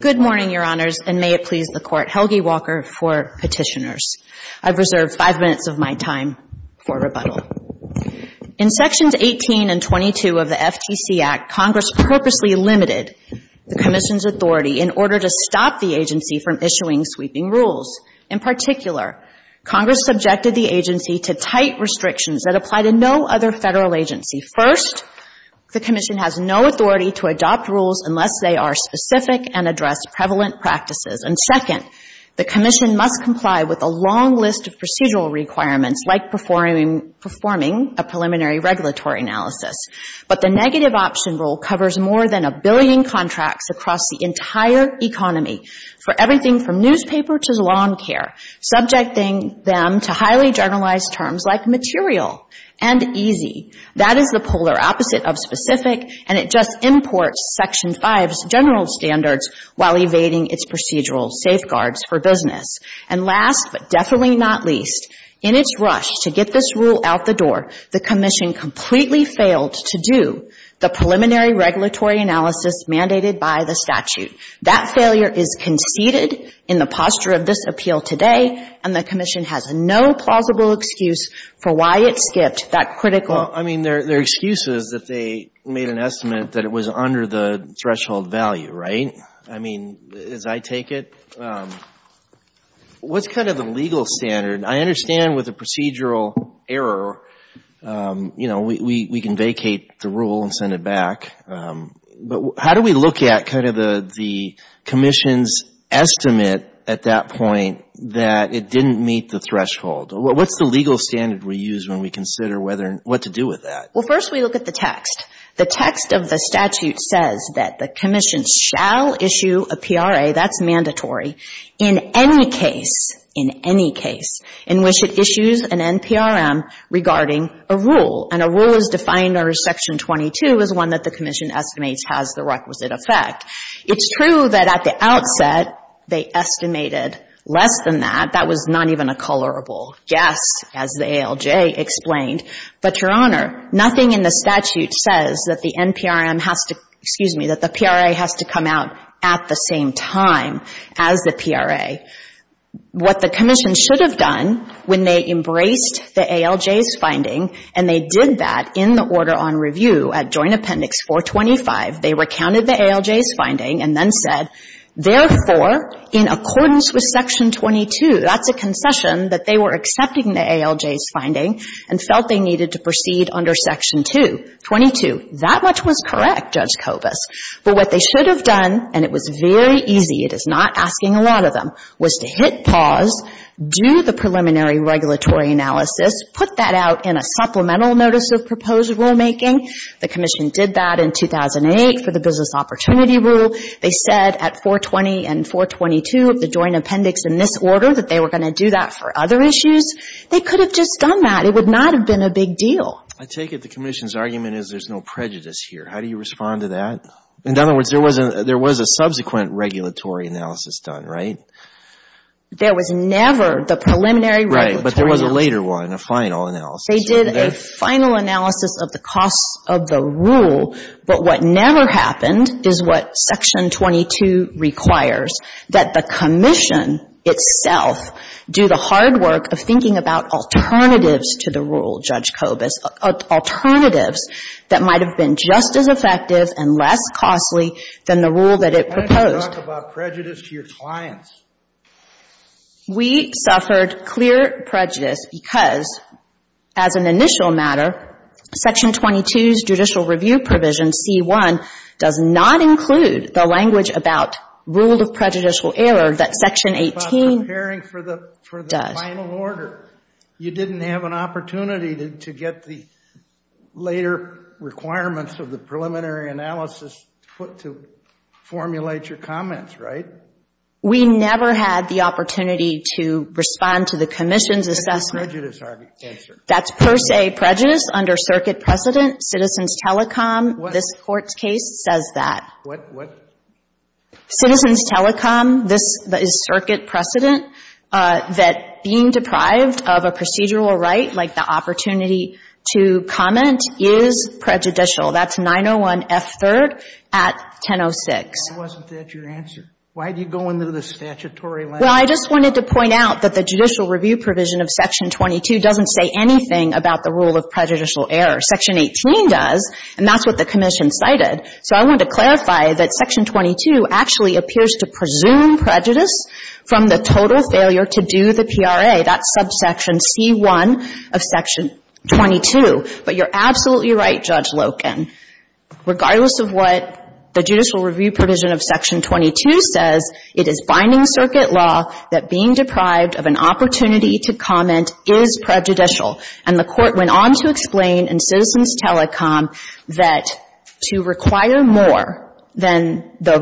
Good morning, Your Honors, and may it please the Court, Helgi Walker for Petitioners. I've reserved five minutes of my time for rebuttal. In Sections 18 and 22 of the FTC Act, Congress purposely limited the Commission's authority in order to stop the agency from issuing sweeping rules. In particular, Congress subjected the agency to tight restrictions that apply to no other Federal agency. First, the Commission has no authority to adopt rules unless they are specific and address prevalent practices. And second, the Commission must comply with a long list of procedural requirements, like performing a preliminary regulatory analysis. But the negative option rule covers more than a billion contracts across the entire economy, for everything from newspaper to lawn care, subjecting them to highly generalized terms like material and easy. That is the polar opposite of specific, and it just imports Section 5's general standards while evading its procedural safeguards for business. And last, but definitely not least, in its rush to get this rule out the door, the Commission completely failed to do the preliminary regulatory analysis mandated by the statute. That failure is conceded in the posture of this appeal today, and the Commission has no plausible excuse for why it skipped that critical. Well, I mean, their excuse is that they made an estimate that it was under the threshold value, right? I mean, as I take it, what's kind of the legal standard? I understand with a procedural error, you know, we can vacate the rule and send it back. But how do we look at kind of the Commission's estimate at that point that it didn't meet the threshold? What's the legal standard we use when we consider what to do with that? Well, first we look at the text. The text of the statute says that the Commission shall issue a PRA, that's mandatory, in any case, in any case, in which it issues an NPRM regarding a rule. And a rule as defined under Section 22 is one that the Commission estimates has the requisite effect. It's true that at the outset they estimated less than that. That was not even a colorable guess, as the ALJ explained. But, Your Honor, nothing in the statute says that the NPRM has to — excuse me, that the PRA has to come out at the same time as the PRA. What the Commission should have done when they embraced the ALJ's finding, and they did that in the order on review at Joint Appendix 425, they recounted the ALJ's finding and then said, therefore, in accordance with Section 22, that's a concession that they were accepting the ALJ's finding and felt they needed to proceed under Section 22. That much was correct, Judge Kobus. But what they should have done, and it was very easy, it is not asking a lot of them, was to hit pause, do the preliminary regulatory analysis, put that out in a supplemental notice of proposed rulemaking. The Commission did that in 2008 for the Business Opportunity Rule. They said at 420 and 422 of the Joint Appendix in this order that they were going to do that for other issues. They could have just done that. It would not have been a big deal. I take it the Commission's argument is there's no prejudice here. How do you respond to that? In other words, there was a subsequent regulatory analysis done, right? There was never the preliminary regulatory analysis. Right, but there was a later one, a final analysis. They did a final analysis of the costs of the rule, but what never happened is what Section 22 requires, that the Commission itself do the hard work of thinking about alternatives that might have been just as effective and less costly than the rule that it proposed. Why don't you talk about prejudice to your clients? We suffered clear prejudice because, as an initial matter, Section 22's judicial review provision, C-1, does not include the language about rule of prejudicial error that Section 18 does. It's about preparing for the final order. You didn't have an opportunity to get the later requirements of the preliminary analysis to formulate your comments, right? We never had the opportunity to respond to the Commission's assessment. That's a prejudice argument. Yes, sir. That's per se prejudice under circuit precedent. Citizens Telecom, this court's case, says that. What? Citizens Telecom, this is circuit precedent. That being deprived of a procedural right, like the opportunity to comment, is prejudicial. That's 901F3rd at 1006. Why wasn't that your answer? Why do you go into the statutory language? Well, I just wanted to point out that the judicial review provision of Section 22 doesn't say anything about the rule of prejudicial error. Section 18 does, and that's what the Commission cited. So I wanted to clarify that Section 22 actually appears to presume prejudice from the total failure to do the PRA. That's subsection C1 of Section 22. But you're absolutely right, Judge Loken. Regardless of what the judicial review provision of Section 22 says, it is binding circuit law that being deprived of an opportunity to comment is prejudicial. And the Court went on to explain in Citizens Telecom that to require more than the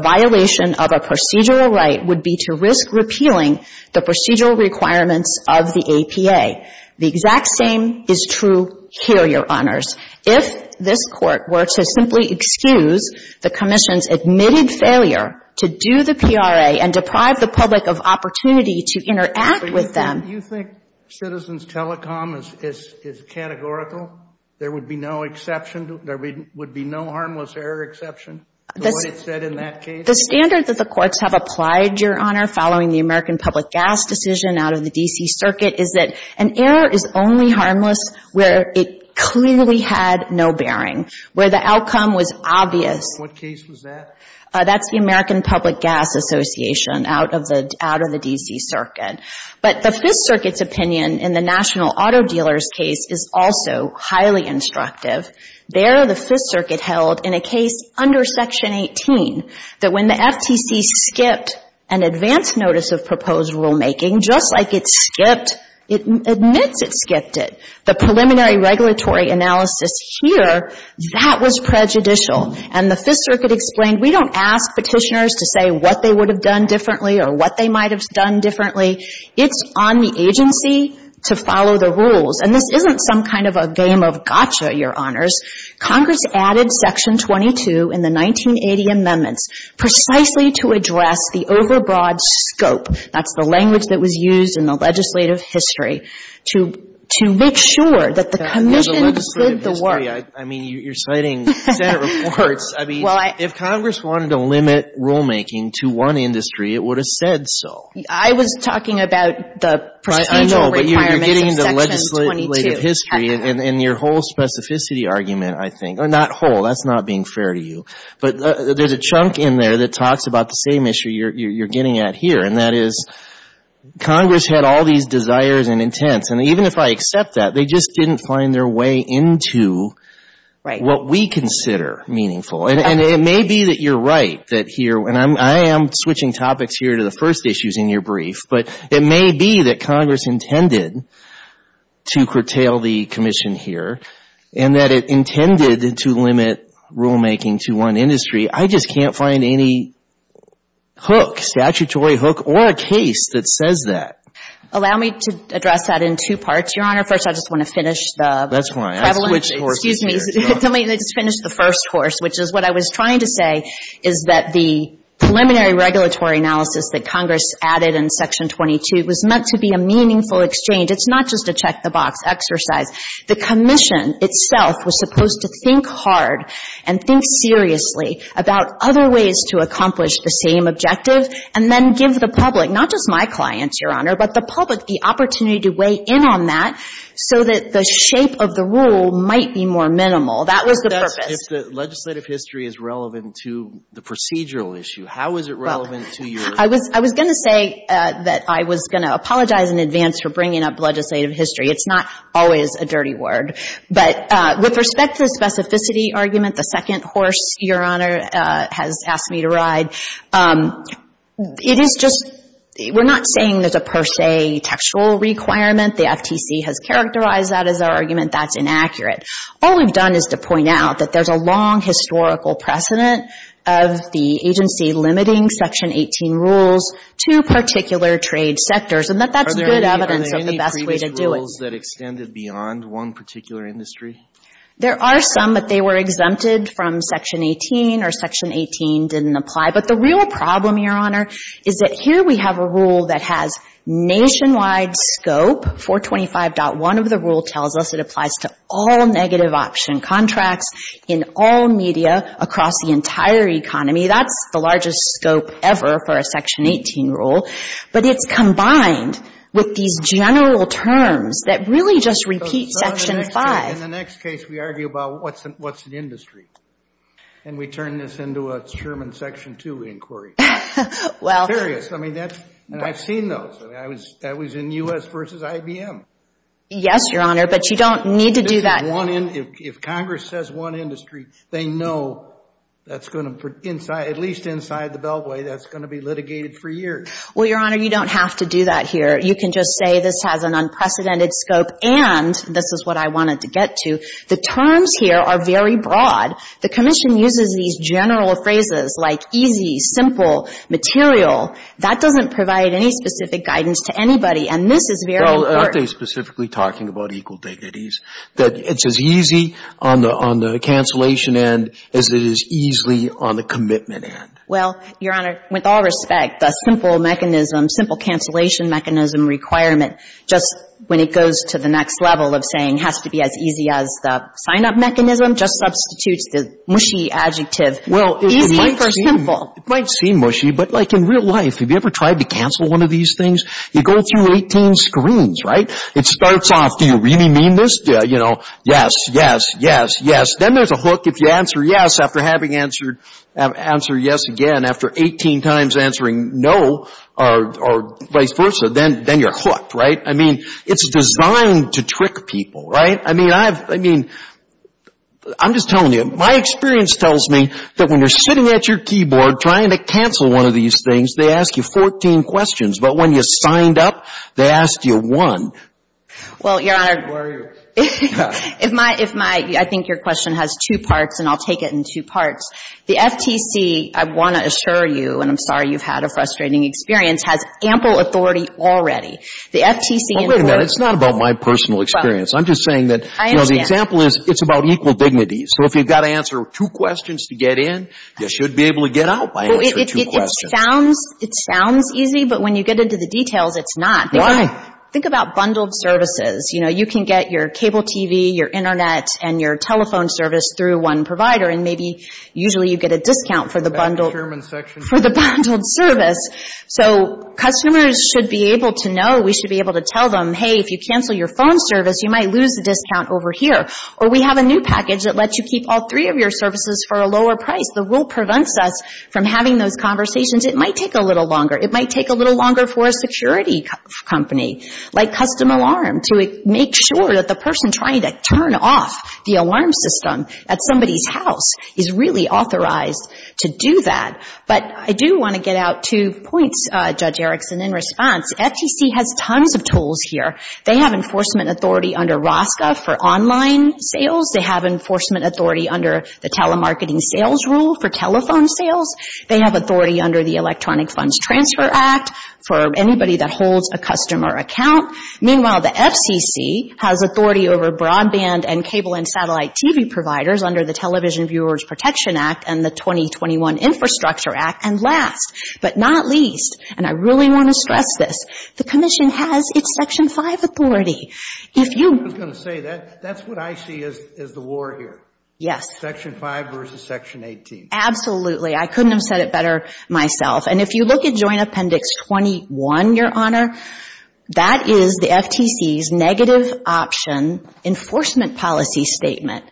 procedural requirements of the APA. The exact same is true here, Your Honors. If this Court were to simply excuse the Commission's admitted failure to do the PRA and deprive the public of opportunity to interact with them ---- So you think Citizens Telecom is categorical? There would be no exception? There would be no harmless error exception, the way it's said in that case? The standard that the courts have applied, Your Honor, following the American Public Gas decision out of the D.C. Circuit, is that an error is only harmless where it clearly had no bearing, where the outcome was obvious. What case was that? That's the American Public Gas Association out of the D.C. Circuit. But the Fifth Circuit's opinion in the National Auto Dealers case is also highly instructive. There, the Fifth Circuit held in a case under Section 18 that when the FTC skipped an advance notice of proposed rulemaking, just like it skipped, it admits it skipped it. The preliminary regulatory analysis here, that was prejudicial. And the Fifth Circuit explained, we don't ask petitioners to say what they would have done differently or what they might have done differently. It's on the agency to follow the rules. And this isn't some kind of a game of gotcha, Your Honors. Congress added Section 22 in the 1980 amendments precisely to address the overbroad scope, that's the language that was used in the legislative history, to make sure that the commission did the work. I mean, you're citing Senate reports. I mean, if Congress wanted to limit rulemaking to one industry, it would have said so. I was talking about the procedural requirements of Section 22. And your whole specificity argument, I think, or not whole, that's not being fair to you. But there's a chunk in there that talks about the same issue you're getting at here, and that is Congress had all these desires and intents. And even if I accept that, they just didn't find their way into what we consider meaningful. And it may be that you're right that here, and I am switching topics here to the commission here, and that it intended to limit rulemaking to one industry. I just can't find any hook, statutory hook, or a case that says that. Allow me to address that in two parts, Your Honor. First, I just want to finish the prevalence. That's fine. I'll switch horses here. Excuse me. Let me just finish the first horse, which is what I was trying to say, is that the preliminary regulatory analysis that Congress added in Section 22 was meant to be a meaningful exchange. It's not just a check-the-box exercise. The commission itself was supposed to think hard and think seriously about other ways to accomplish the same objective, and then give the public, not just my clients, Your Honor, but the public the opportunity to weigh in on that so that the shape of the rule might be more minimal. That was the purpose. But that's if the legislative history is relevant to the procedural issue. How is it relevant to your — I was going to say that I was going to apologize in advance for bringing up legislative history. It's not always a dirty word. But with respect to the specificity argument, the second horse, Your Honor, has asked me to ride, it is just — we're not saying there's a per se textual requirement. The FTC has characterized that as our argument. That's inaccurate. All we've done is to point out that there's a long historical precedent of the agency limiting Section 18 rules to particular trade sectors, and that that's good evidence of the best way to do it. Are there any previous rules that extended beyond one particular industry? There are some, but they were exempted from Section 18 or Section 18 didn't apply. But the real problem, Your Honor, is that here we have a rule that has nationwide scope. 425.1 of the rule tells us it applies to all negative option contracts in all media across the entire economy. That's the largest scope ever for a Section 18 rule. But it's combined with these general terms that really just repeat Section 5. In the next case, we argue about what's an industry, and we turn this into a Sherman Section 2 inquiry. Well — I'm curious. I mean, that's — and I've seen those. I mean, that was in U.S. v. IBM. Yes, Your Honor, but you don't need to do that now. If one — if Congress says one industry, they know that's going to — at least inside the beltway, that's going to be litigated for years. Well, Your Honor, you don't have to do that here. You can just say this has an unprecedented scope and this is what I wanted to get to. The terms here are very broad. The Commission uses these general phrases like easy, simple, material. That doesn't provide any specific guidance to anybody, and this is very important. Well, aren't they specifically talking about equal dignities, that it's as easy on the cancellation end as it is easily on the commitment end? Well, Your Honor, with all respect, the simple mechanism, simple cancellation mechanism requirement, just when it goes to the next level of saying has to be as easy as the sign-up mechanism, just substitutes the mushy adjective. Well, it might seem — Easy or simple. It might seem mushy, but like in real life, have you ever tried to cancel one of these things? You go through 18 screens, right? It starts off, do you really mean this? You know, yes, yes, yes, yes. Then there's a hook if you answer yes after having answered yes again, after 18 times answering no or vice versa, then you're hooked, right? I mean, it's designed to trick people, right? I mean, I'm just telling you. My experience tells me that when you're sitting at your keyboard trying to cancel one of these things, they ask you 14 questions. But when you signed up, they asked you one. Well, Your Honor, if my — I think your question has two parts, and I'll take it in two parts. The FTC, I want to assure you, and I'm sorry you've had a frustrating experience, has ample authority already. The FTC — Well, wait a minute. It's not about my personal experience. I'm just saying that, you know, the example is it's about equal dignity. So if you've got to answer two questions to get in, you should be able to get out and answer two questions. Well, it sounds easy, but when you get into the details, it's not. Think about bundled services. You know, you can get your cable TV, your Internet, and your telephone service through one provider, and maybe usually you get a discount for the bundled — That's the chairman's section. — for the bundled service. So customers should be able to know. We should be able to tell them, hey, if you cancel your phone service, you might lose the discount over here. Or we have a new package that lets you keep all three of your services for a lower price. The rule prevents us from having those conversations. It might take a little longer. It might take a little longer for a security company, like Custom Alarm, to make sure that the person trying to turn off the alarm system at somebody's house is really authorized to do that. But I do want to get out two points, Judge Erickson, in response. FTC has tons of tools here. They have enforcement authority under ROSCA for online sales. They have enforcement authority under the telemarketing sales rule for telephone sales. They have authority under the Electronic Funds Transfer Act for anybody that holds a customer account. Meanwhile, the FCC has authority over broadband and cable and satellite TV providers under the Television Viewers Protection Act and the 2021 Infrastructure Act. And last but not least, and I really want to stress this, the commission has its Section 5 authority. I was going to say, that's what I see as the war here. Yes. Section 5 versus Section 18. Absolutely. I couldn't have said it better myself. And if you look at Joint Appendix 21, Your Honor, that is the FTC's negative option enforcement policy statement.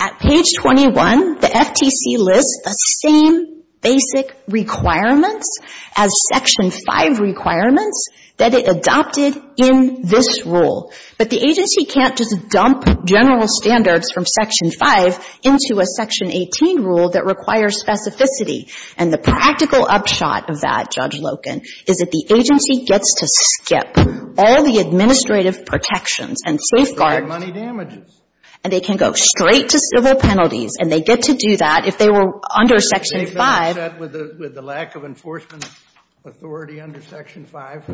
At page 21, the FTC lists the same basic requirements as Section 5 requirements that it adopted in this rule. But the agency can't just dump general standards from Section 5 into a Section 18 rule that requires specificity. And the practical upshot of that, Judge Loken, is that the agency gets to skip all the administrative protections and safeguards. And they can go straight to civil penalties. And they get to do that if they were under Section 5. Is that with the lack of enforcement authority under Section 5?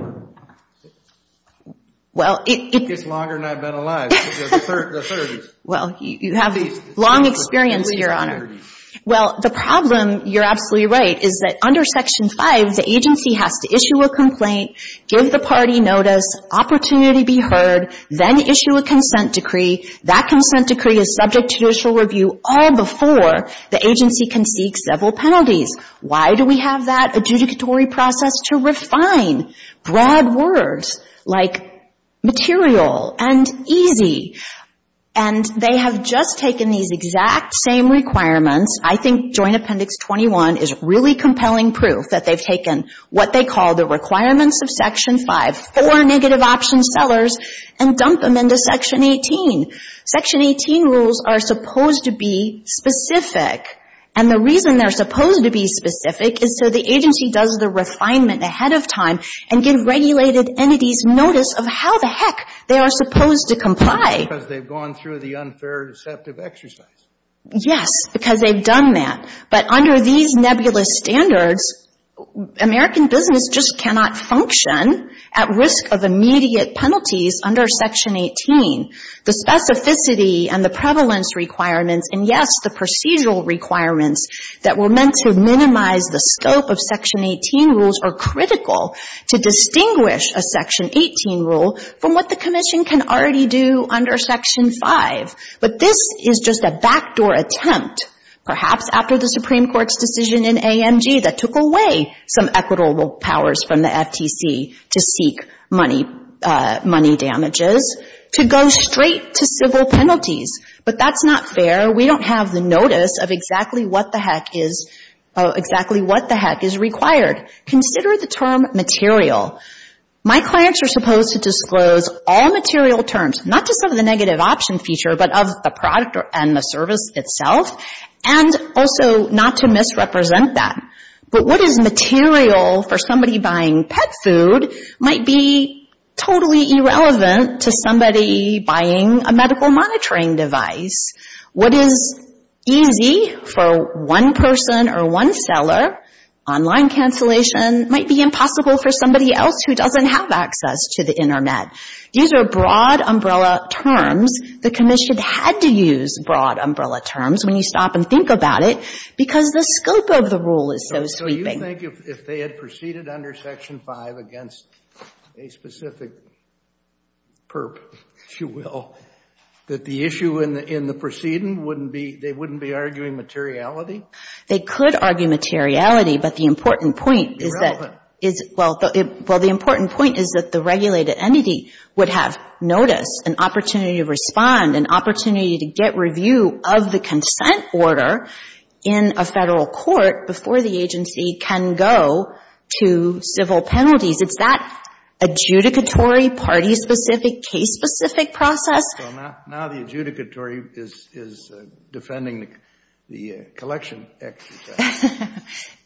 It's longer than I've been alive. The 30s. Well, you have long experience, Your Honor. Well, the problem, you're absolutely right, is that under Section 5, the agency has to issue a complaint, give the party notice, opportunity be heard, then issue a consent decree. That consent decree is subject to judicial review all before the agency can seek civil penalties. Why do we have that adjudicatory process? To refine broad words like material and easy. And they have just taken these exact same requirements. I think Joint Appendix 21 is really compelling proof that they've taken what they call the requirements of Section 5, four negative option sellers, and dump them into Section 18. Section 18 rules are supposed to be specific. And the reason they're supposed to be specific is so the agency does the refinement ahead of time and give regulated entities notice of how the heck they are supposed to comply. Because they've gone through the unfair deceptive exercise. Yes, because they've done that. But under these nebulous standards, American business just cannot function at risk of immediate penalties under Section 18. The specificity and the prevalence requirements and, yes, the procedural requirements that were meant to minimize the scope of Section 18 rules are critical to distinguish a Section 18 rule from what the Commission can already do under Section 5. But this is just a backdoor attempt, perhaps after the Supreme Court's decision in AMG that took away some equitable powers from the FTC to seek money damages, to go straight to civil penalties. But that's not fair. We don't have the notice of exactly what the heck is required. Consider the term material. My clients are supposed to disclose all material terms, not just of the negative option feature, but of the product and the service itself, and also not to misrepresent that. But what is material for somebody buying pet food might be totally irrelevant to somebody buying a medical monitoring device. What is easy for one person or one seller, online cancellation, might be impossible for somebody else who doesn't have access to the Internet. These are broad umbrella terms. The Commission had to use broad umbrella terms when you stop and think about it because the scope of the rule is so sweeping. So you think if they had proceeded under Section 5 against a specific perp, if you will, that the issue in the proceeding wouldn't be, they wouldn't be arguing materiality? They could argue materiality, but the important point is that, well, the important point is that the regulated entity would have notice, an opportunity to respond, an opportunity to get review of the consent order in a Federal court before the agency can go to civil penalties. It's that adjudicatory, party-specific, case-specific process. So now the adjudicatory is defending the collection exercise.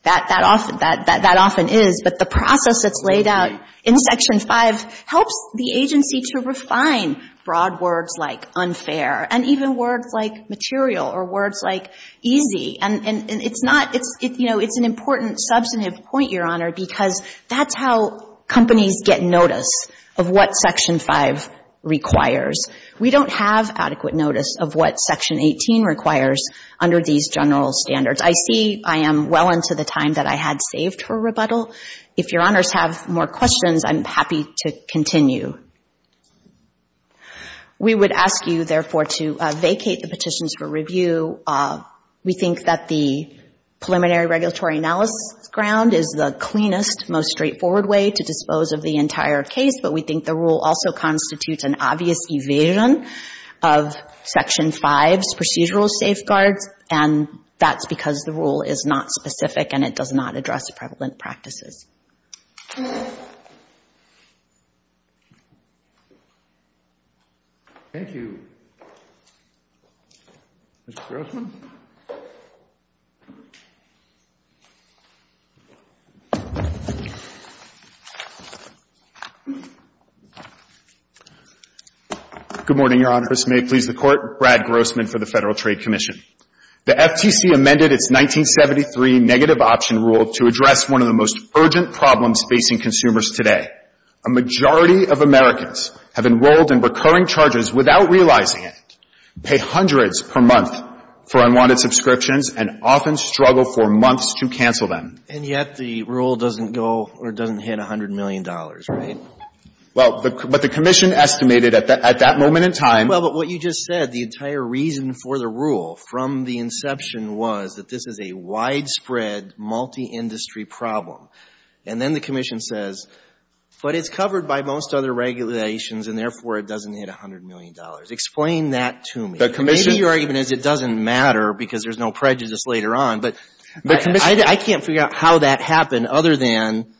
That often is, but the process that's laid out in Section 5 helps the agency to refine broad words like unfair and even words like material or words like easy. And it's not, you know, it's an important substantive point, Your Honor, because that's how companies get notice of what Section 5 requires. We don't have adequate notice of what Section 18 requires under these general standards. I see I am well into the time that I had saved for rebuttal. If Your Honors have more questions, I'm happy to continue. We would ask you, therefore, to vacate the petitions for review. We think that the preliminary regulatory analysis ground is the cleanest, most straightforward way to dispose of the entire case, but we think the rule also constitutes an obvious evasion of Section 5's procedural safeguards, and that's because the rule is not specific and it does not address prevalent practices. Thank you. Mr. Grossman? Good morning, Your Honors. May it please the Court. Brad Grossman for the Federal Trade Commission. The FTC amended its 1973 negative option rule to address one of the most urgent problems facing consumers today. A majority of Americans have enrolled in recurring charges without realizing it, pay hundreds per month for unwanted subscriptions, and often struggle for months to cancel them. And yet the rule doesn't go or doesn't hit $100 million, right? Well, but the Commission estimated at that moment in time. Well, but what you just said, the entire reason for the rule from the inception was that this is a widespread, multi-industry problem. And then the Commission says, but it's covered by most other regulations and, therefore, it doesn't hit $100 million. Explain that to me. Maybe your argument is it doesn't matter because there's no prejudice later on, but I can't figure out how that happened other than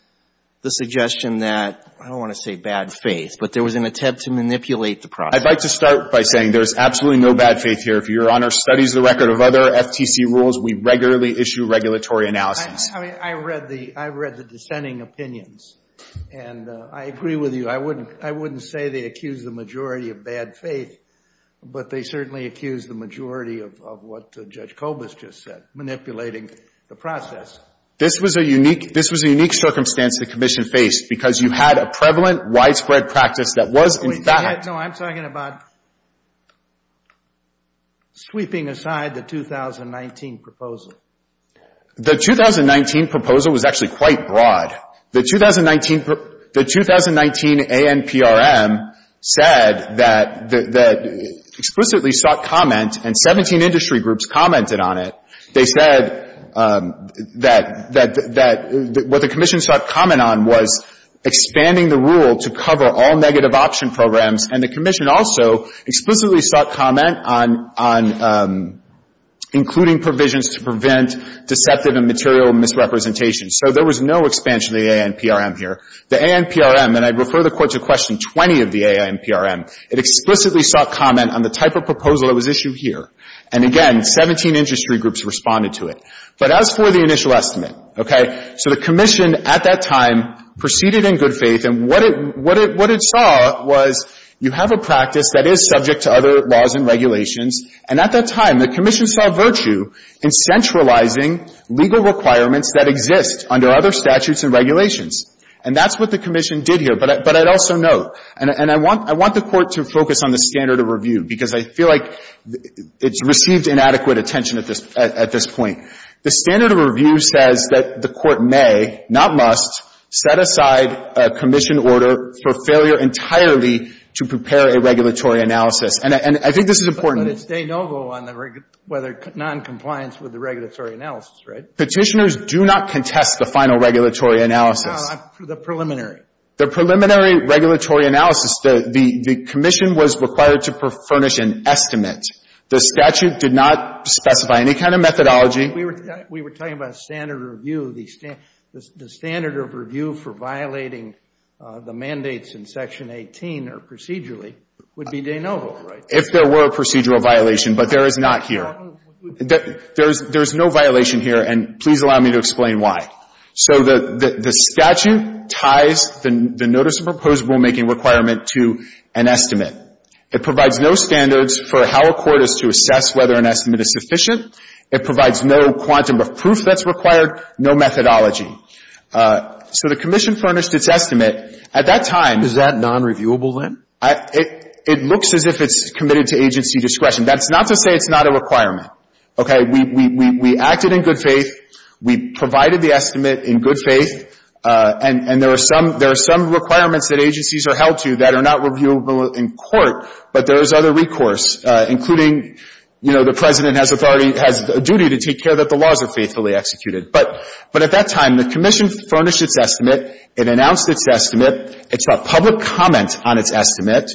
the suggestion that, I don't want to say bad faith, but there was an attempt to manipulate the process. I'd like to start by saying there's absolutely no bad faith here. If Your Honor studies the record of other FTC rules, we regularly issue regulatory analysis. I read the dissenting opinions. And I agree with you. I wouldn't say they accused the majority of bad faith, but they certainly accused the majority of what Judge Kobus just said, manipulating the process. This was a unique circumstance the Commission faced because you had a prevalent, widespread practice that was in fact No, I'm talking about sweeping aside the 2019 proposal. The 2019 proposal was actually quite broad. The 2019 ANPRM said that explicitly sought comment, and 17 industry groups commented on it. They said that what the Commission sought comment on was expanding the rule to cover all negative option programs, and the Commission also explicitly sought comment on including provisions to prevent deceptive and material misrepresentation. So there was no expansion of the ANPRM here. The ANPRM, and I'd refer the Court to question 20 of the ANPRM, it explicitly sought comment on the type of proposal that was issued here. And again, 17 industry groups responded to it. But as for the initial estimate, okay, so the Commission at that time proceeded in good faith, and what it saw was you have a practice that is subject to other laws and regulations, and at that time, the Commission saw virtue in centralizing legal requirements that exist under other statutes and regulations. And that's what the Commission did here. But I'd also note, and I want the Court to focus on the standard of review because I feel like it's received inadequate attention at this point. The standard of review says that the Court may, not must, set aside a Commission order for failure entirely to prepare a regulatory analysis. And I think this is important. But it's de novo on the whether noncompliance with the regulatory analysis, right? Petitioners do not contest the final regulatory analysis. No, the preliminary. The preliminary regulatory analysis. The Commission was required to furnish an estimate. The statute did not specify any kind of methodology. We were talking about standard of review. The standard of review for violating the mandates in Section 18 or procedurally would be de novo, right? If there were a procedural violation, but there is not here. There is no violation here, and please allow me to explain why. So the statute ties the notice of proposed rulemaking requirement to an estimate. It provides no standards for how a Court is to assess whether an estimate is sufficient. It provides no quantum of proof that's required, no methodology. So the Commission furnished its estimate. At that time — Is that nonreviewable then? It looks as if it's committed to agency discretion. That's not to say it's not a requirement. Okay? We acted in good faith. We provided the estimate in good faith. And there are some requirements that agencies are held to that are not reviewable in court, but there is other recourse, including, you know, the President has authority — has a duty to take care that the laws are faithfully executed. But at that time, the Commission furnished its estimate. It announced its estimate. It's got public comment on its estimate.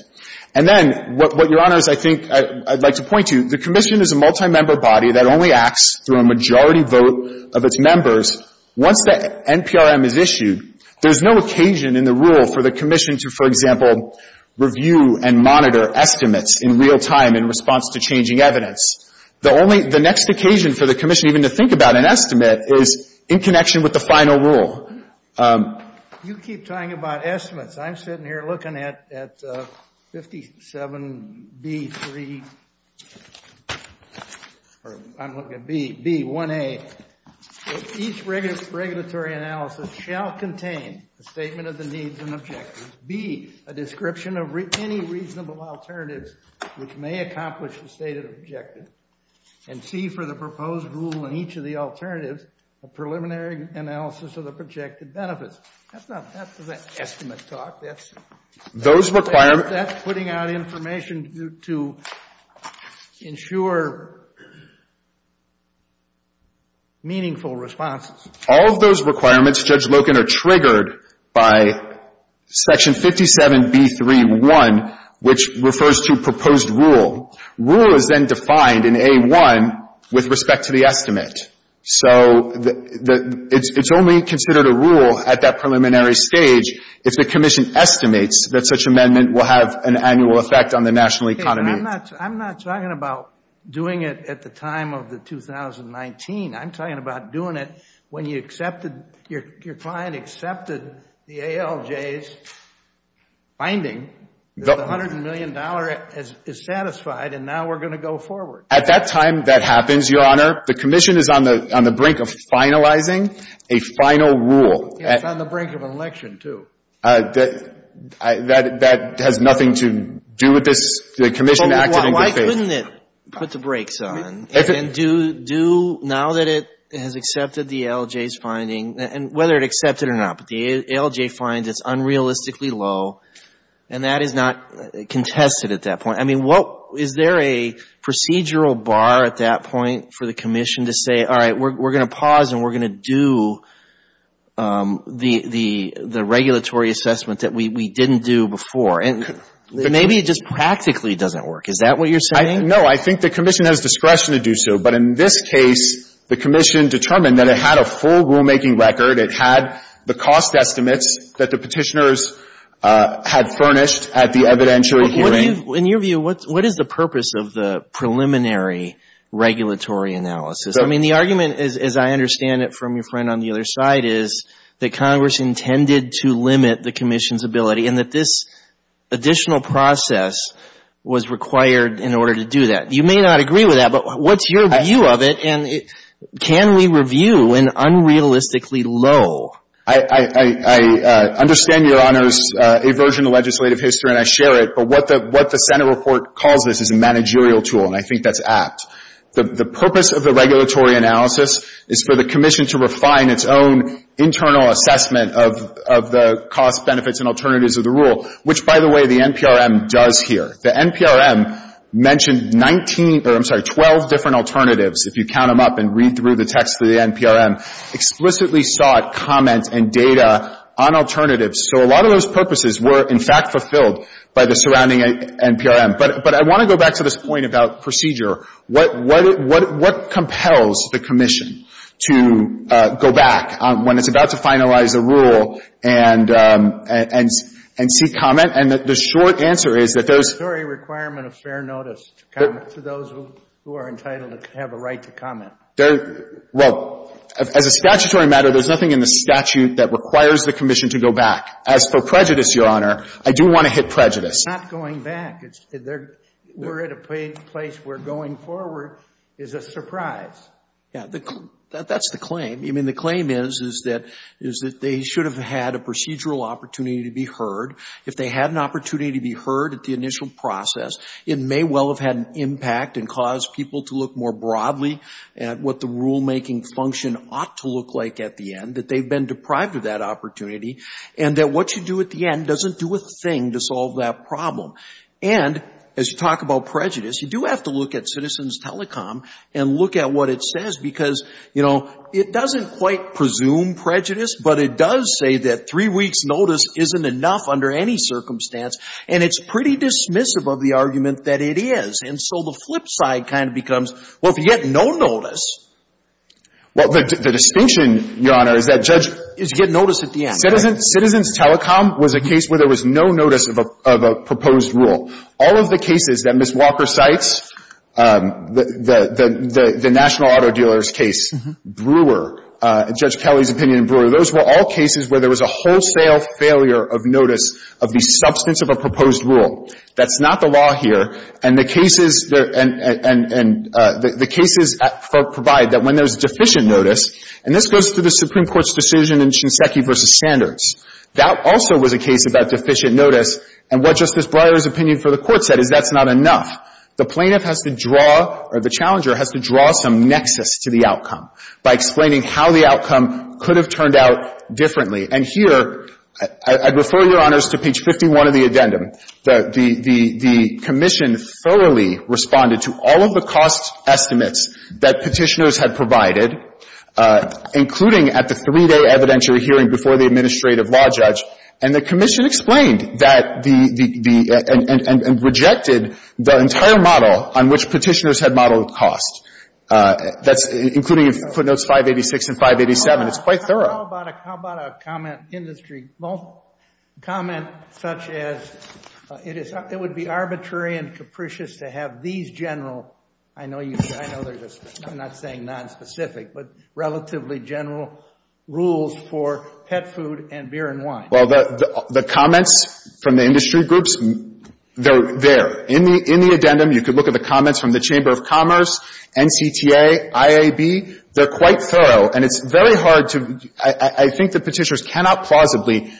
And then what, Your Honors, I think I'd like to point to, the Commission is a multimember body that only acts through a majority vote of its members. Once the NPRM is issued, there's no occasion in the rule for the Commission to, for example, review and monitor estimates in real time in response to changing evidence. The only — the next occasion for the Commission even to think about an estimate is in connection with the final rule. You keep talking about estimates. I'm sitting here looking at 57B3, or I'm looking at B1A. Each regulatory analysis shall contain a statement of the needs and objectives, B, a description of any reasonable alternatives which may accomplish the stated objective, and C, for the proposed rule in each of the alternatives, a preliminary analysis of the projected benefits. That's not — that's not estimate talk. That's — Those requirements — That's putting out information to ensure meaningful responses. All of those requirements, Judge Loken, are triggered by Section 57B3.1, which refers to proposed rule. Rule is then defined in A1 with respect to the estimate. So the — it's only considered a rule at that preliminary stage if the Commission estimates that such amendment will have an annual effect on the national economy. I'm not — I'm not talking about doing it at the time of the 2019. I'm talking about doing it when you accepted — your client accepted the ALJ's finding that the $100 million is satisfied, and now we're going to go forward. At that time, that happens, Your Honor. The Commission is on the — on the brink of finalizing a final rule. It's on the brink of an election, too. That has nothing to do with this. The Commission acted in good faith. But why couldn't it put the brakes on and do — now that it has accepted the ALJ's finding, and whether it accepted it or not, but the ALJ finds it's unrealistically low, and that is not contested at that point. I mean, what — is there a procedural bar at that point for the Commission to say, all right, we're going to pause and we're going to do the — the regulatory assessment that we didn't do before? And maybe it just practically doesn't work. Is that what you're saying? No. I think the Commission has discretion to do so. But in this case, the Commission determined that it had a full rulemaking record. It had the cost estimates that the Petitioners had furnished at the evidentiary hearing. In your view, what is the purpose of the preliminary regulatory analysis? I mean, the argument, as I understand it from your friend on the other side, is that Congress intended to limit the Commission's ability and that this additional process was required in order to do that. You may not agree with that, but what's your view of it? And can we review an unrealistically low — I understand Your Honors' aversion to legislative history, and I share it. But what the — what the Senate report calls this is a managerial tool, and I think that's apt. The purpose of the regulatory analysis is for the Commission to refine its own internal assessment of — of the costs, benefits, and alternatives of the rule, which, by the way, the NPRM does here. The NPRM mentioned 19 — or, I'm sorry, 12 different alternatives, if you count them up and read through the text for the NPRM, explicitly sought comments and data on alternatives. So a lot of those purposes were, in fact, fulfilled by the surrounding NPRM. But — but I want to go back to this point about procedure. What — what — what compels the Commission to go back when it's about to finalize a rule and — and see comment? And the short answer is that those — A statutory requirement of fair notice to comment to those who are entitled to have a right to comment. There — well, as a statutory matter, there's nothing in the statute that requires the Commission to go back. As for prejudice, Your Honor, I do want to hit prejudice. We're not going back. We're at a place where going forward is a surprise. Yeah. That's the claim. I mean, the claim is, is that — is that they should have had a procedural opportunity to be heard. If they had an opportunity to be heard at the initial process, it may well have had an impact and caused people to look more broadly at what the rulemaking function ought to look like at the end, that they've been deprived of that opportunity, and that what you do at the end doesn't do a thing to solve that problem. And, as you talk about prejudice, you do have to look at Citizens Telecom and look at what it says because, you know, it doesn't quite presume prejudice, but it does say that three weeks' notice isn't enough under any circumstance, and it's pretty dismissive of the argument that it is. And so the flip side kind of becomes, well, if you get no notice — Well, the distinction, Your Honor, is that Judge — Is you get notice at the end. Citizens Telecom was a case where there was no notice of a proposed rule. All of the cases that Ms. Walker cites, the National Auto Dealers case, Brewer, Judge Kelly's opinion in Brewer, those were all cases where there was a wholesale failure of notice of the substance of a proposed rule. That's not the law here. And the cases — and the cases provide that when there's deficient notice, and this goes to the Supreme Court's decision in Shinseki v. Standards, that also was a case about deficient notice, and what Justice Breyer's opinion for the Court said is that's not enough. The plaintiff has to draw, or the challenger has to draw some nexus to the outcome by explaining how the outcome could have turned out differently. And here, I'd refer Your Honors to page 51 of the addendum. The commission thoroughly responded to all of the cost estimates that Petitioners had provided, including at the three-day evidentiary hearing before the administrative law judge, and the commission explained that the — and rejected the entire model on which Petitioners had modeled cost. That's — including footnotes 586 and 587. It's quite thorough. But how about a — how about a comment industry — comment such as it is — it would be arbitrary and capricious to have these general — I know you — I know there's a — I'm not saying nonspecific, but relatively general rules for pet food and beer and wine. Well, the comments from the industry groups, they're there. In the addendum, you could look at the comments from the Chamber of Commerce, NCTA, IAB. They're quite thorough, and it's very hard to — I think that Petitioners cannot plausibly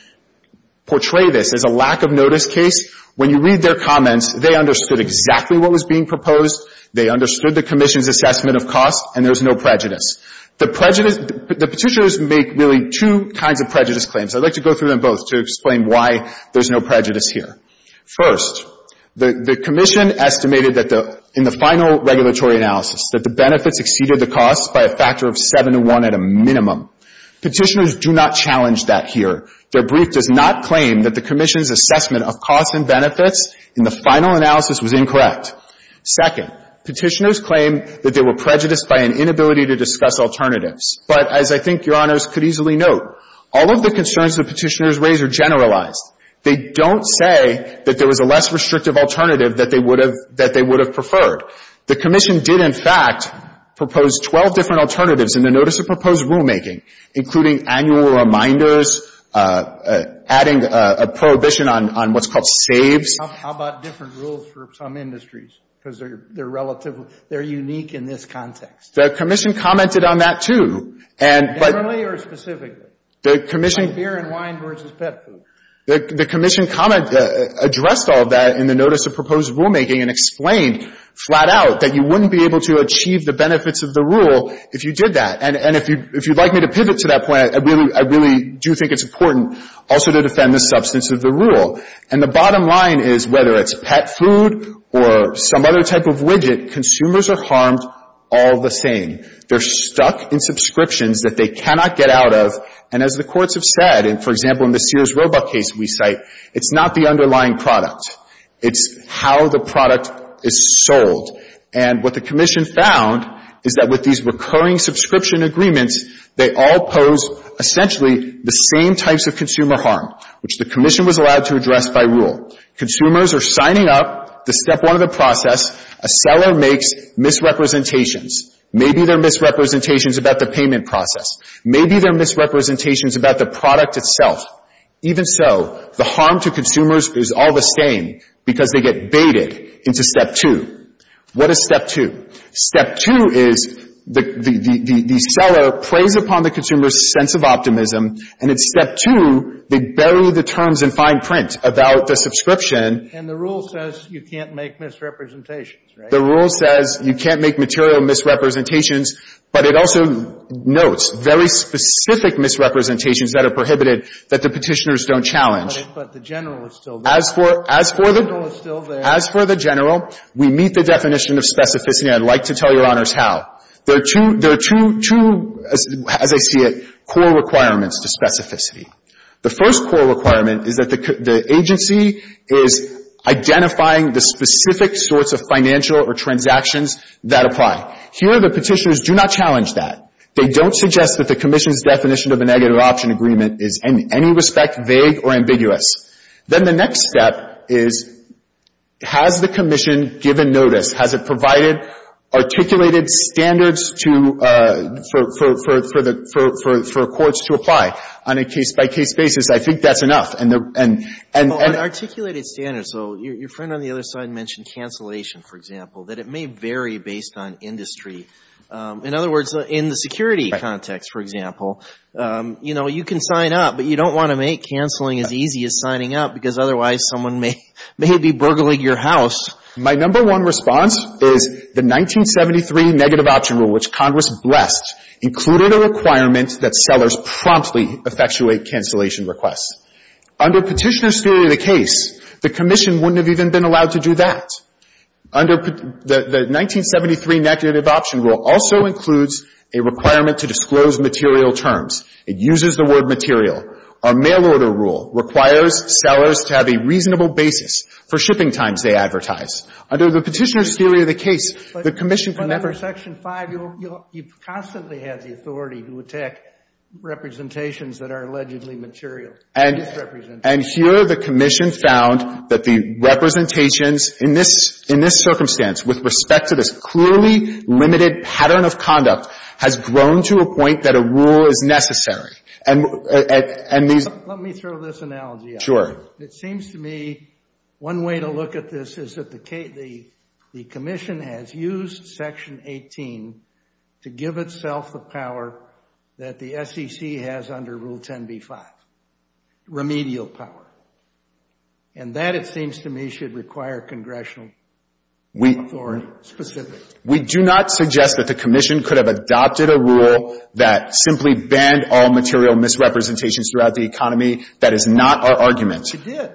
portray this as a lack-of-notice case. When you read their comments, they understood exactly what was being proposed, they understood the commission's assessment of cost, and there's no prejudice. The prejudice — the Petitioners make really two kinds of prejudice claims. I'd like to go through them both to explain why there's no prejudice here. First, the commission estimated that the — in the final regulatory analysis, that the benefits exceeded the costs by a factor of 7 to 1 at a minimum. Petitioners do not challenge that here. Their brief does not claim that the commission's assessment of costs and benefits in the final analysis was incorrect. Second, Petitioners claim that they were prejudiced by an inability to discuss alternatives. But as I think Your Honors could easily note, all of the concerns that Petitioners raise are generalized. They don't say that there was a less restrictive alternative that they would have preferred. The commission did, in fact, propose 12 different alternatives in the notice of proposed rulemaking, including annual reminders, adding a prohibition on what's called saves. How about different rules for some industries? Because they're relatively — they're unique in this context. The commission commented on that, too. Definitely or specifically? The commission — Beer and wine versus pet food. The commission comment — addressed all of that in the notice of proposed rulemaking and explained flat out that you wouldn't be able to achieve the benefits of the rule if you did that. And if you'd like me to pivot to that point, I really do think it's important also to defend the substance of the rule. And the bottom line is, whether it's pet food or some other type of widget, consumers are harmed all the same. They're stuck in subscriptions that they cannot get out of. And as the courts have said, for example, in the Sears Roebuck case we cite, it's not the underlying product. It's how the product is sold. And what the commission found is that with these recurring subscription agreements, they all pose essentially the same types of consumer harm, which the commission was allowed to address by rule. Consumers are signing up to step one of the process. A seller makes misrepresentations. Maybe they're misrepresentations about the payment process. Maybe they're misrepresentations about the product itself. Even so, the harm to consumers is all the same because they get baited into step two. What is step two? Step two is the seller preys upon the consumer's sense of optimism. And in step two, they bury the terms in fine print about the subscription. And the rule says you can't make misrepresentations, right? The rule says you can't make material misrepresentations. But it also notes very specific misrepresentations that are prohibited that the Petitioners don't challenge. But the general is still there. As for the general, we meet the definition of specificity. I'd like to tell Your Honors how. There are two, as I see it, core requirements to specificity. The first core requirement is that the agency is identifying the specific sorts of financial or transactions that apply. Here, the Petitioners do not challenge that. They don't suggest that the Commission's definition of a negative option agreement is in any respect vague or ambiguous. Then the next step is, has the Commission given notice? Has it provided articulated standards for courts to apply? On a case-by-case basis, I think that's enough. And the — Well, on articulated standards, though, your friend on the other side mentioned cancellation, for example, that it may vary based on industry. In other words, in the security context, for example, you know, you can sign up, but you don't want to make canceling as easy as signing up because otherwise someone may be burgling your house. My number one response is the 1973 negative option rule, which Congress blessed, included a requirement that sellers promptly effectuate cancellation requests. Under Petitioners' theory of the case, the Commission wouldn't have even been allowed to do that. Under the 1973 negative option rule also includes a requirement to disclose material terms. It uses the word material. Our mail order rule requires sellers to have a reasonable basis for shipping times they advertise. Under the Petitioners' theory of the case, the Commission can never — But under Section 5, you'll — you constantly have the authority to attack representations that are allegedly material. And here the Commission found that the representations in this circumstance with respect to this clearly limited pattern of conduct has grown to a point that a rule is necessary. And these — Let me throw this analogy out. Sure. It seems to me one way to look at this is that the Commission has used Section 18 to give itself the power that the SEC has under Rule 10b-5, remedial power. And that, it seems to me, should require congressional authority specifically. We do not suggest that the Commission could have adopted a rule that simply banned all material misrepresentations throughout the economy. That is not our argument. It did.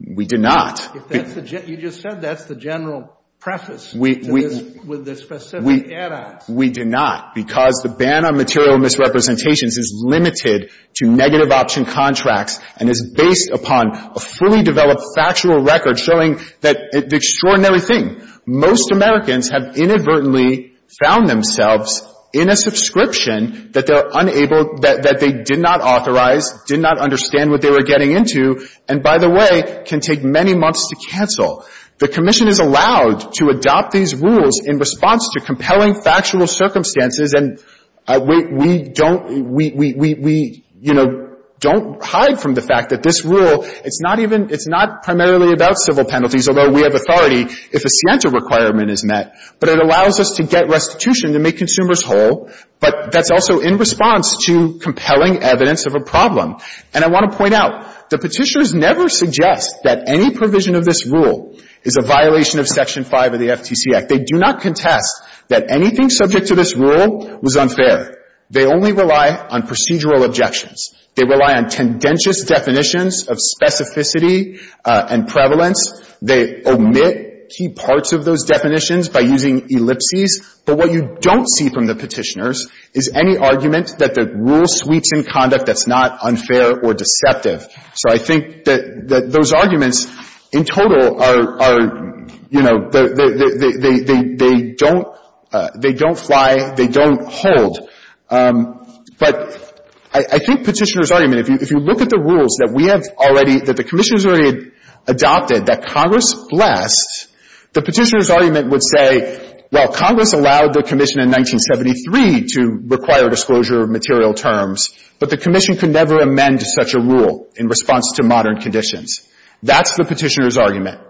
We did not. You just said that's the general preface to this with the specific add-ons. We did not, because the ban on material misrepresentations is limited to negative option contracts and is based upon a fully developed factual record showing that it's an extraordinary thing. Most Americans have inadvertently found themselves in a subscription that they're unable — that they did not authorize, did not understand what they were getting into, and, by the way, can take many months to cancel. The Commission is allowed to adopt these rules in response to compelling factual circumstances, and we don't — we, you know, don't hide from the fact that this rule, it's not even — it's not primarily about civil penalties, although we have authority if a scienter requirement is met. But it allows us to get restitution to make consumers whole, but that's also in response to compelling evidence of a problem. And I want to point out, the Petitioners never suggest that any provision of this rule is a violation of Section 5 of the FTC Act. They do not contest that anything subject to this rule was unfair. They only rely on procedural objections. They rely on tendentious definitions of specificity and prevalence. They omit key parts of those definitions by using ellipses. But what you don't see from the Petitioners is any argument that the rule sweeps in conduct that's not unfair or deceptive. So I think that those arguments in total are, you know, they don't — they don't fly, they don't hold. But I think Petitioners' argument, if you look at the rules that we have already — that the Commission has already adopted that Congress blessed, the Petitioners' argument would say, well, Congress allowed the Commission in 1973 to require disclosure of material terms, but the Commission could never amend such a rule in response to modern conditions. That's the Petitioners' argument.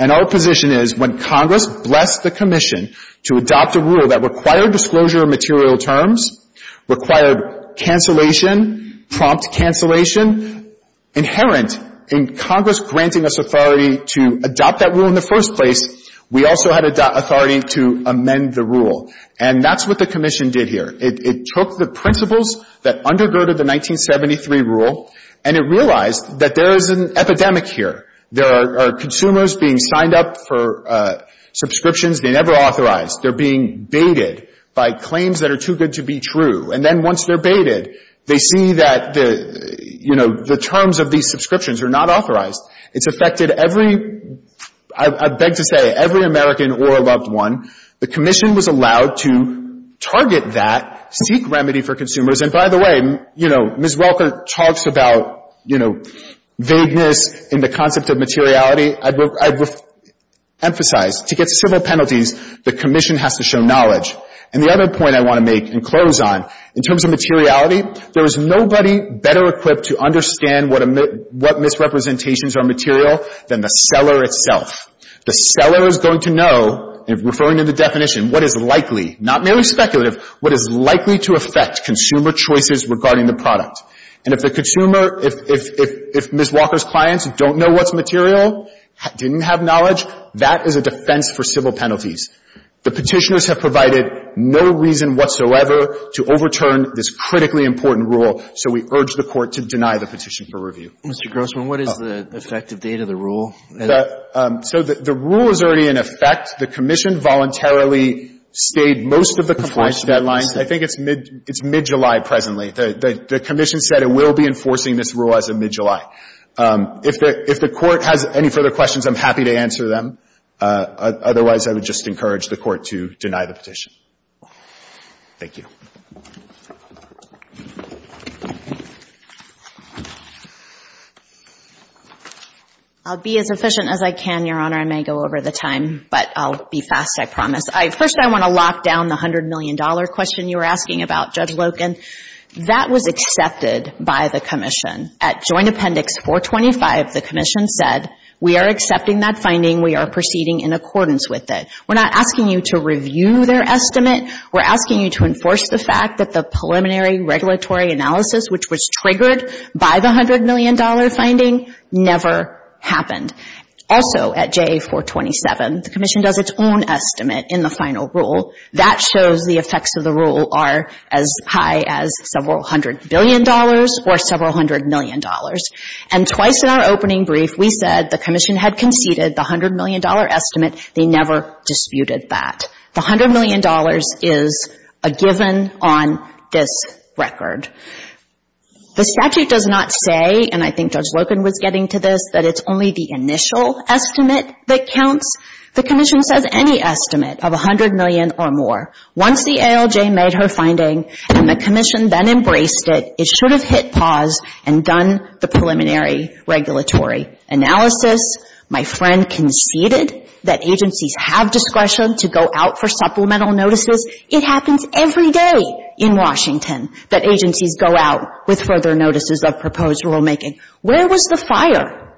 And our position is, when Congress blessed the Commission to adopt a rule that required disclosure of material terms, required cancellation, prompt cancellation, inherent in Congress granting us authority to adopt that rule in the first place, we also had authority to amend the rule. And that's what the Commission did here. It took the principles that undergirded the 1973 rule, and it realized that there is an epidemic here. There are consumers being signed up for subscriptions they never authorized. They're being baited by claims that are too good to be true. And then once they're baited, they see that the, you know, the terms of these subscriptions are not authorized. It's affected every — I beg to say, every American or a loved one. The Commission was allowed to target that, seek remedy for consumers. And by the way, you know, Ms. Welker talks about, you know, vagueness in the concept of materiality. I would emphasize, to get civil penalties, the Commission has to show knowledge. And the other point I want to make and close on, in terms of materiality, there is nobody better equipped to understand what misrepresentations are material than the seller itself. The seller is going to know, referring to the definition, what is likely, not merely speculative, what is likely to affect consumer choices regarding the product. And if the consumer — if Ms. Walker's clients don't know what's material, didn't have knowledge, that is a defense for civil penalties. The Petitioners have provided no reason whatsoever to overturn this critically important rule, so we urge the Court to deny the petition for review. Mr. Grossman, what is the effective date of the rule? So the rule is already in effect. The Commission voluntarily stayed most of the compliance deadline. I think it's mid — it's mid-July presently. The Commission said it will be enforcing this rule as of mid-July. If the Court has any further questions, I'm happy to answer them. Otherwise, I would just encourage the Court to deny the petition. Thank you. I'll be as efficient as I can, Your Honor. I may go over the time, but I'll be fast, I promise. First, I want to lock down the $100 million question you were asking about, Judge Loken. That was accepted by the Commission. At Joint Appendix 425, the Commission said, we are accepting that finding. We are proceeding in accordance with it. We're not asking you to review their estimate. We're asking you to enforce the fact that the preliminary regulatory analysis, which was triggered by the $100 million finding, never happened. Also, at JA-427, the Commission does its own estimate in the final rule. That shows the effects of the rule are as high as several hundred billion dollars or several hundred million dollars. And twice in our opening brief, we said the Commission had conceded the $100 million estimate. They never disputed that. The $100 million is a given on this record. The statute does not say, and I think Judge Loken was getting to this, that it's only the initial estimate that counts. The Commission says any estimate of $100 million or more. Once the ALJ made her finding and the Commission then embraced it, it should have hit pause and done the preliminary regulatory analysis. My friend conceded that agencies have discretion to go out for supplemental notices. It happens every day in Washington that agencies go out with further notices of proposed rulemaking. Where was the fire?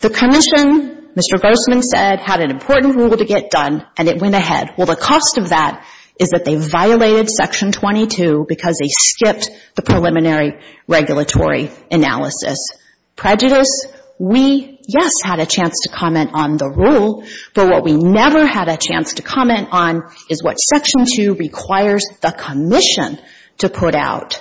The Commission, Mr. Grossman said, had an important rule to get done, and it went ahead. Well, the cost of that is that they violated Section 22 because they skipped the preliminary regulatory analysis. Prejudice? We, yes, had a chance to comment on the rule. But what we never had a chance to comment on is what Section 2 requires the Commission to put out,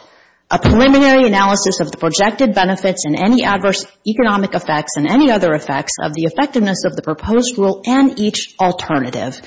a preliminary analysis of the projected benefits and any adverse economic effects and any other effects of the effectiveness of the proposed rule and each alternative.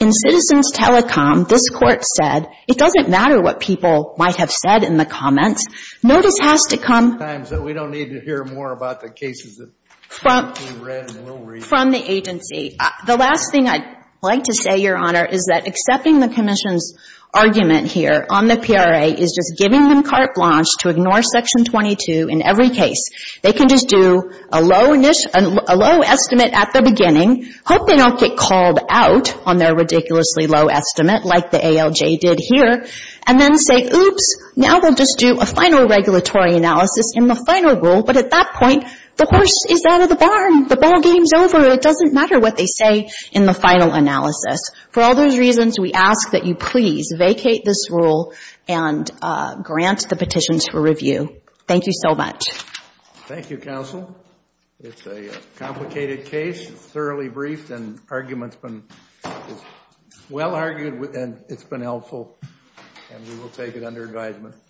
In Citizens Telecom, this Court said it doesn't matter what people might have said in the comments. Notice has to come. Sometimes we don't need to hear more about the cases. From the agency. The last thing I'd like to say, Your Honor, is that accepting the Commission's argument here on the PRA is just giving them carte blanche to ignore Section 22 in every case. They can just do a low estimate at the beginning, hope they don't get called out on their ridiculously low estimate like the ALJ did here, and then say, oops, now we'll just do a final regulatory analysis in the final rule. But at that point, the horse is out of the barn. The ball game's over. It doesn't matter what they say in the final analysis. For all those reasons, we ask that you please vacate this rule and grant the petitions for review. Thank you so much. Thank you, Counsel. It's a complicated case. It's thoroughly briefed and argument's been well argued and it's been helpful. And we will take it under advisement.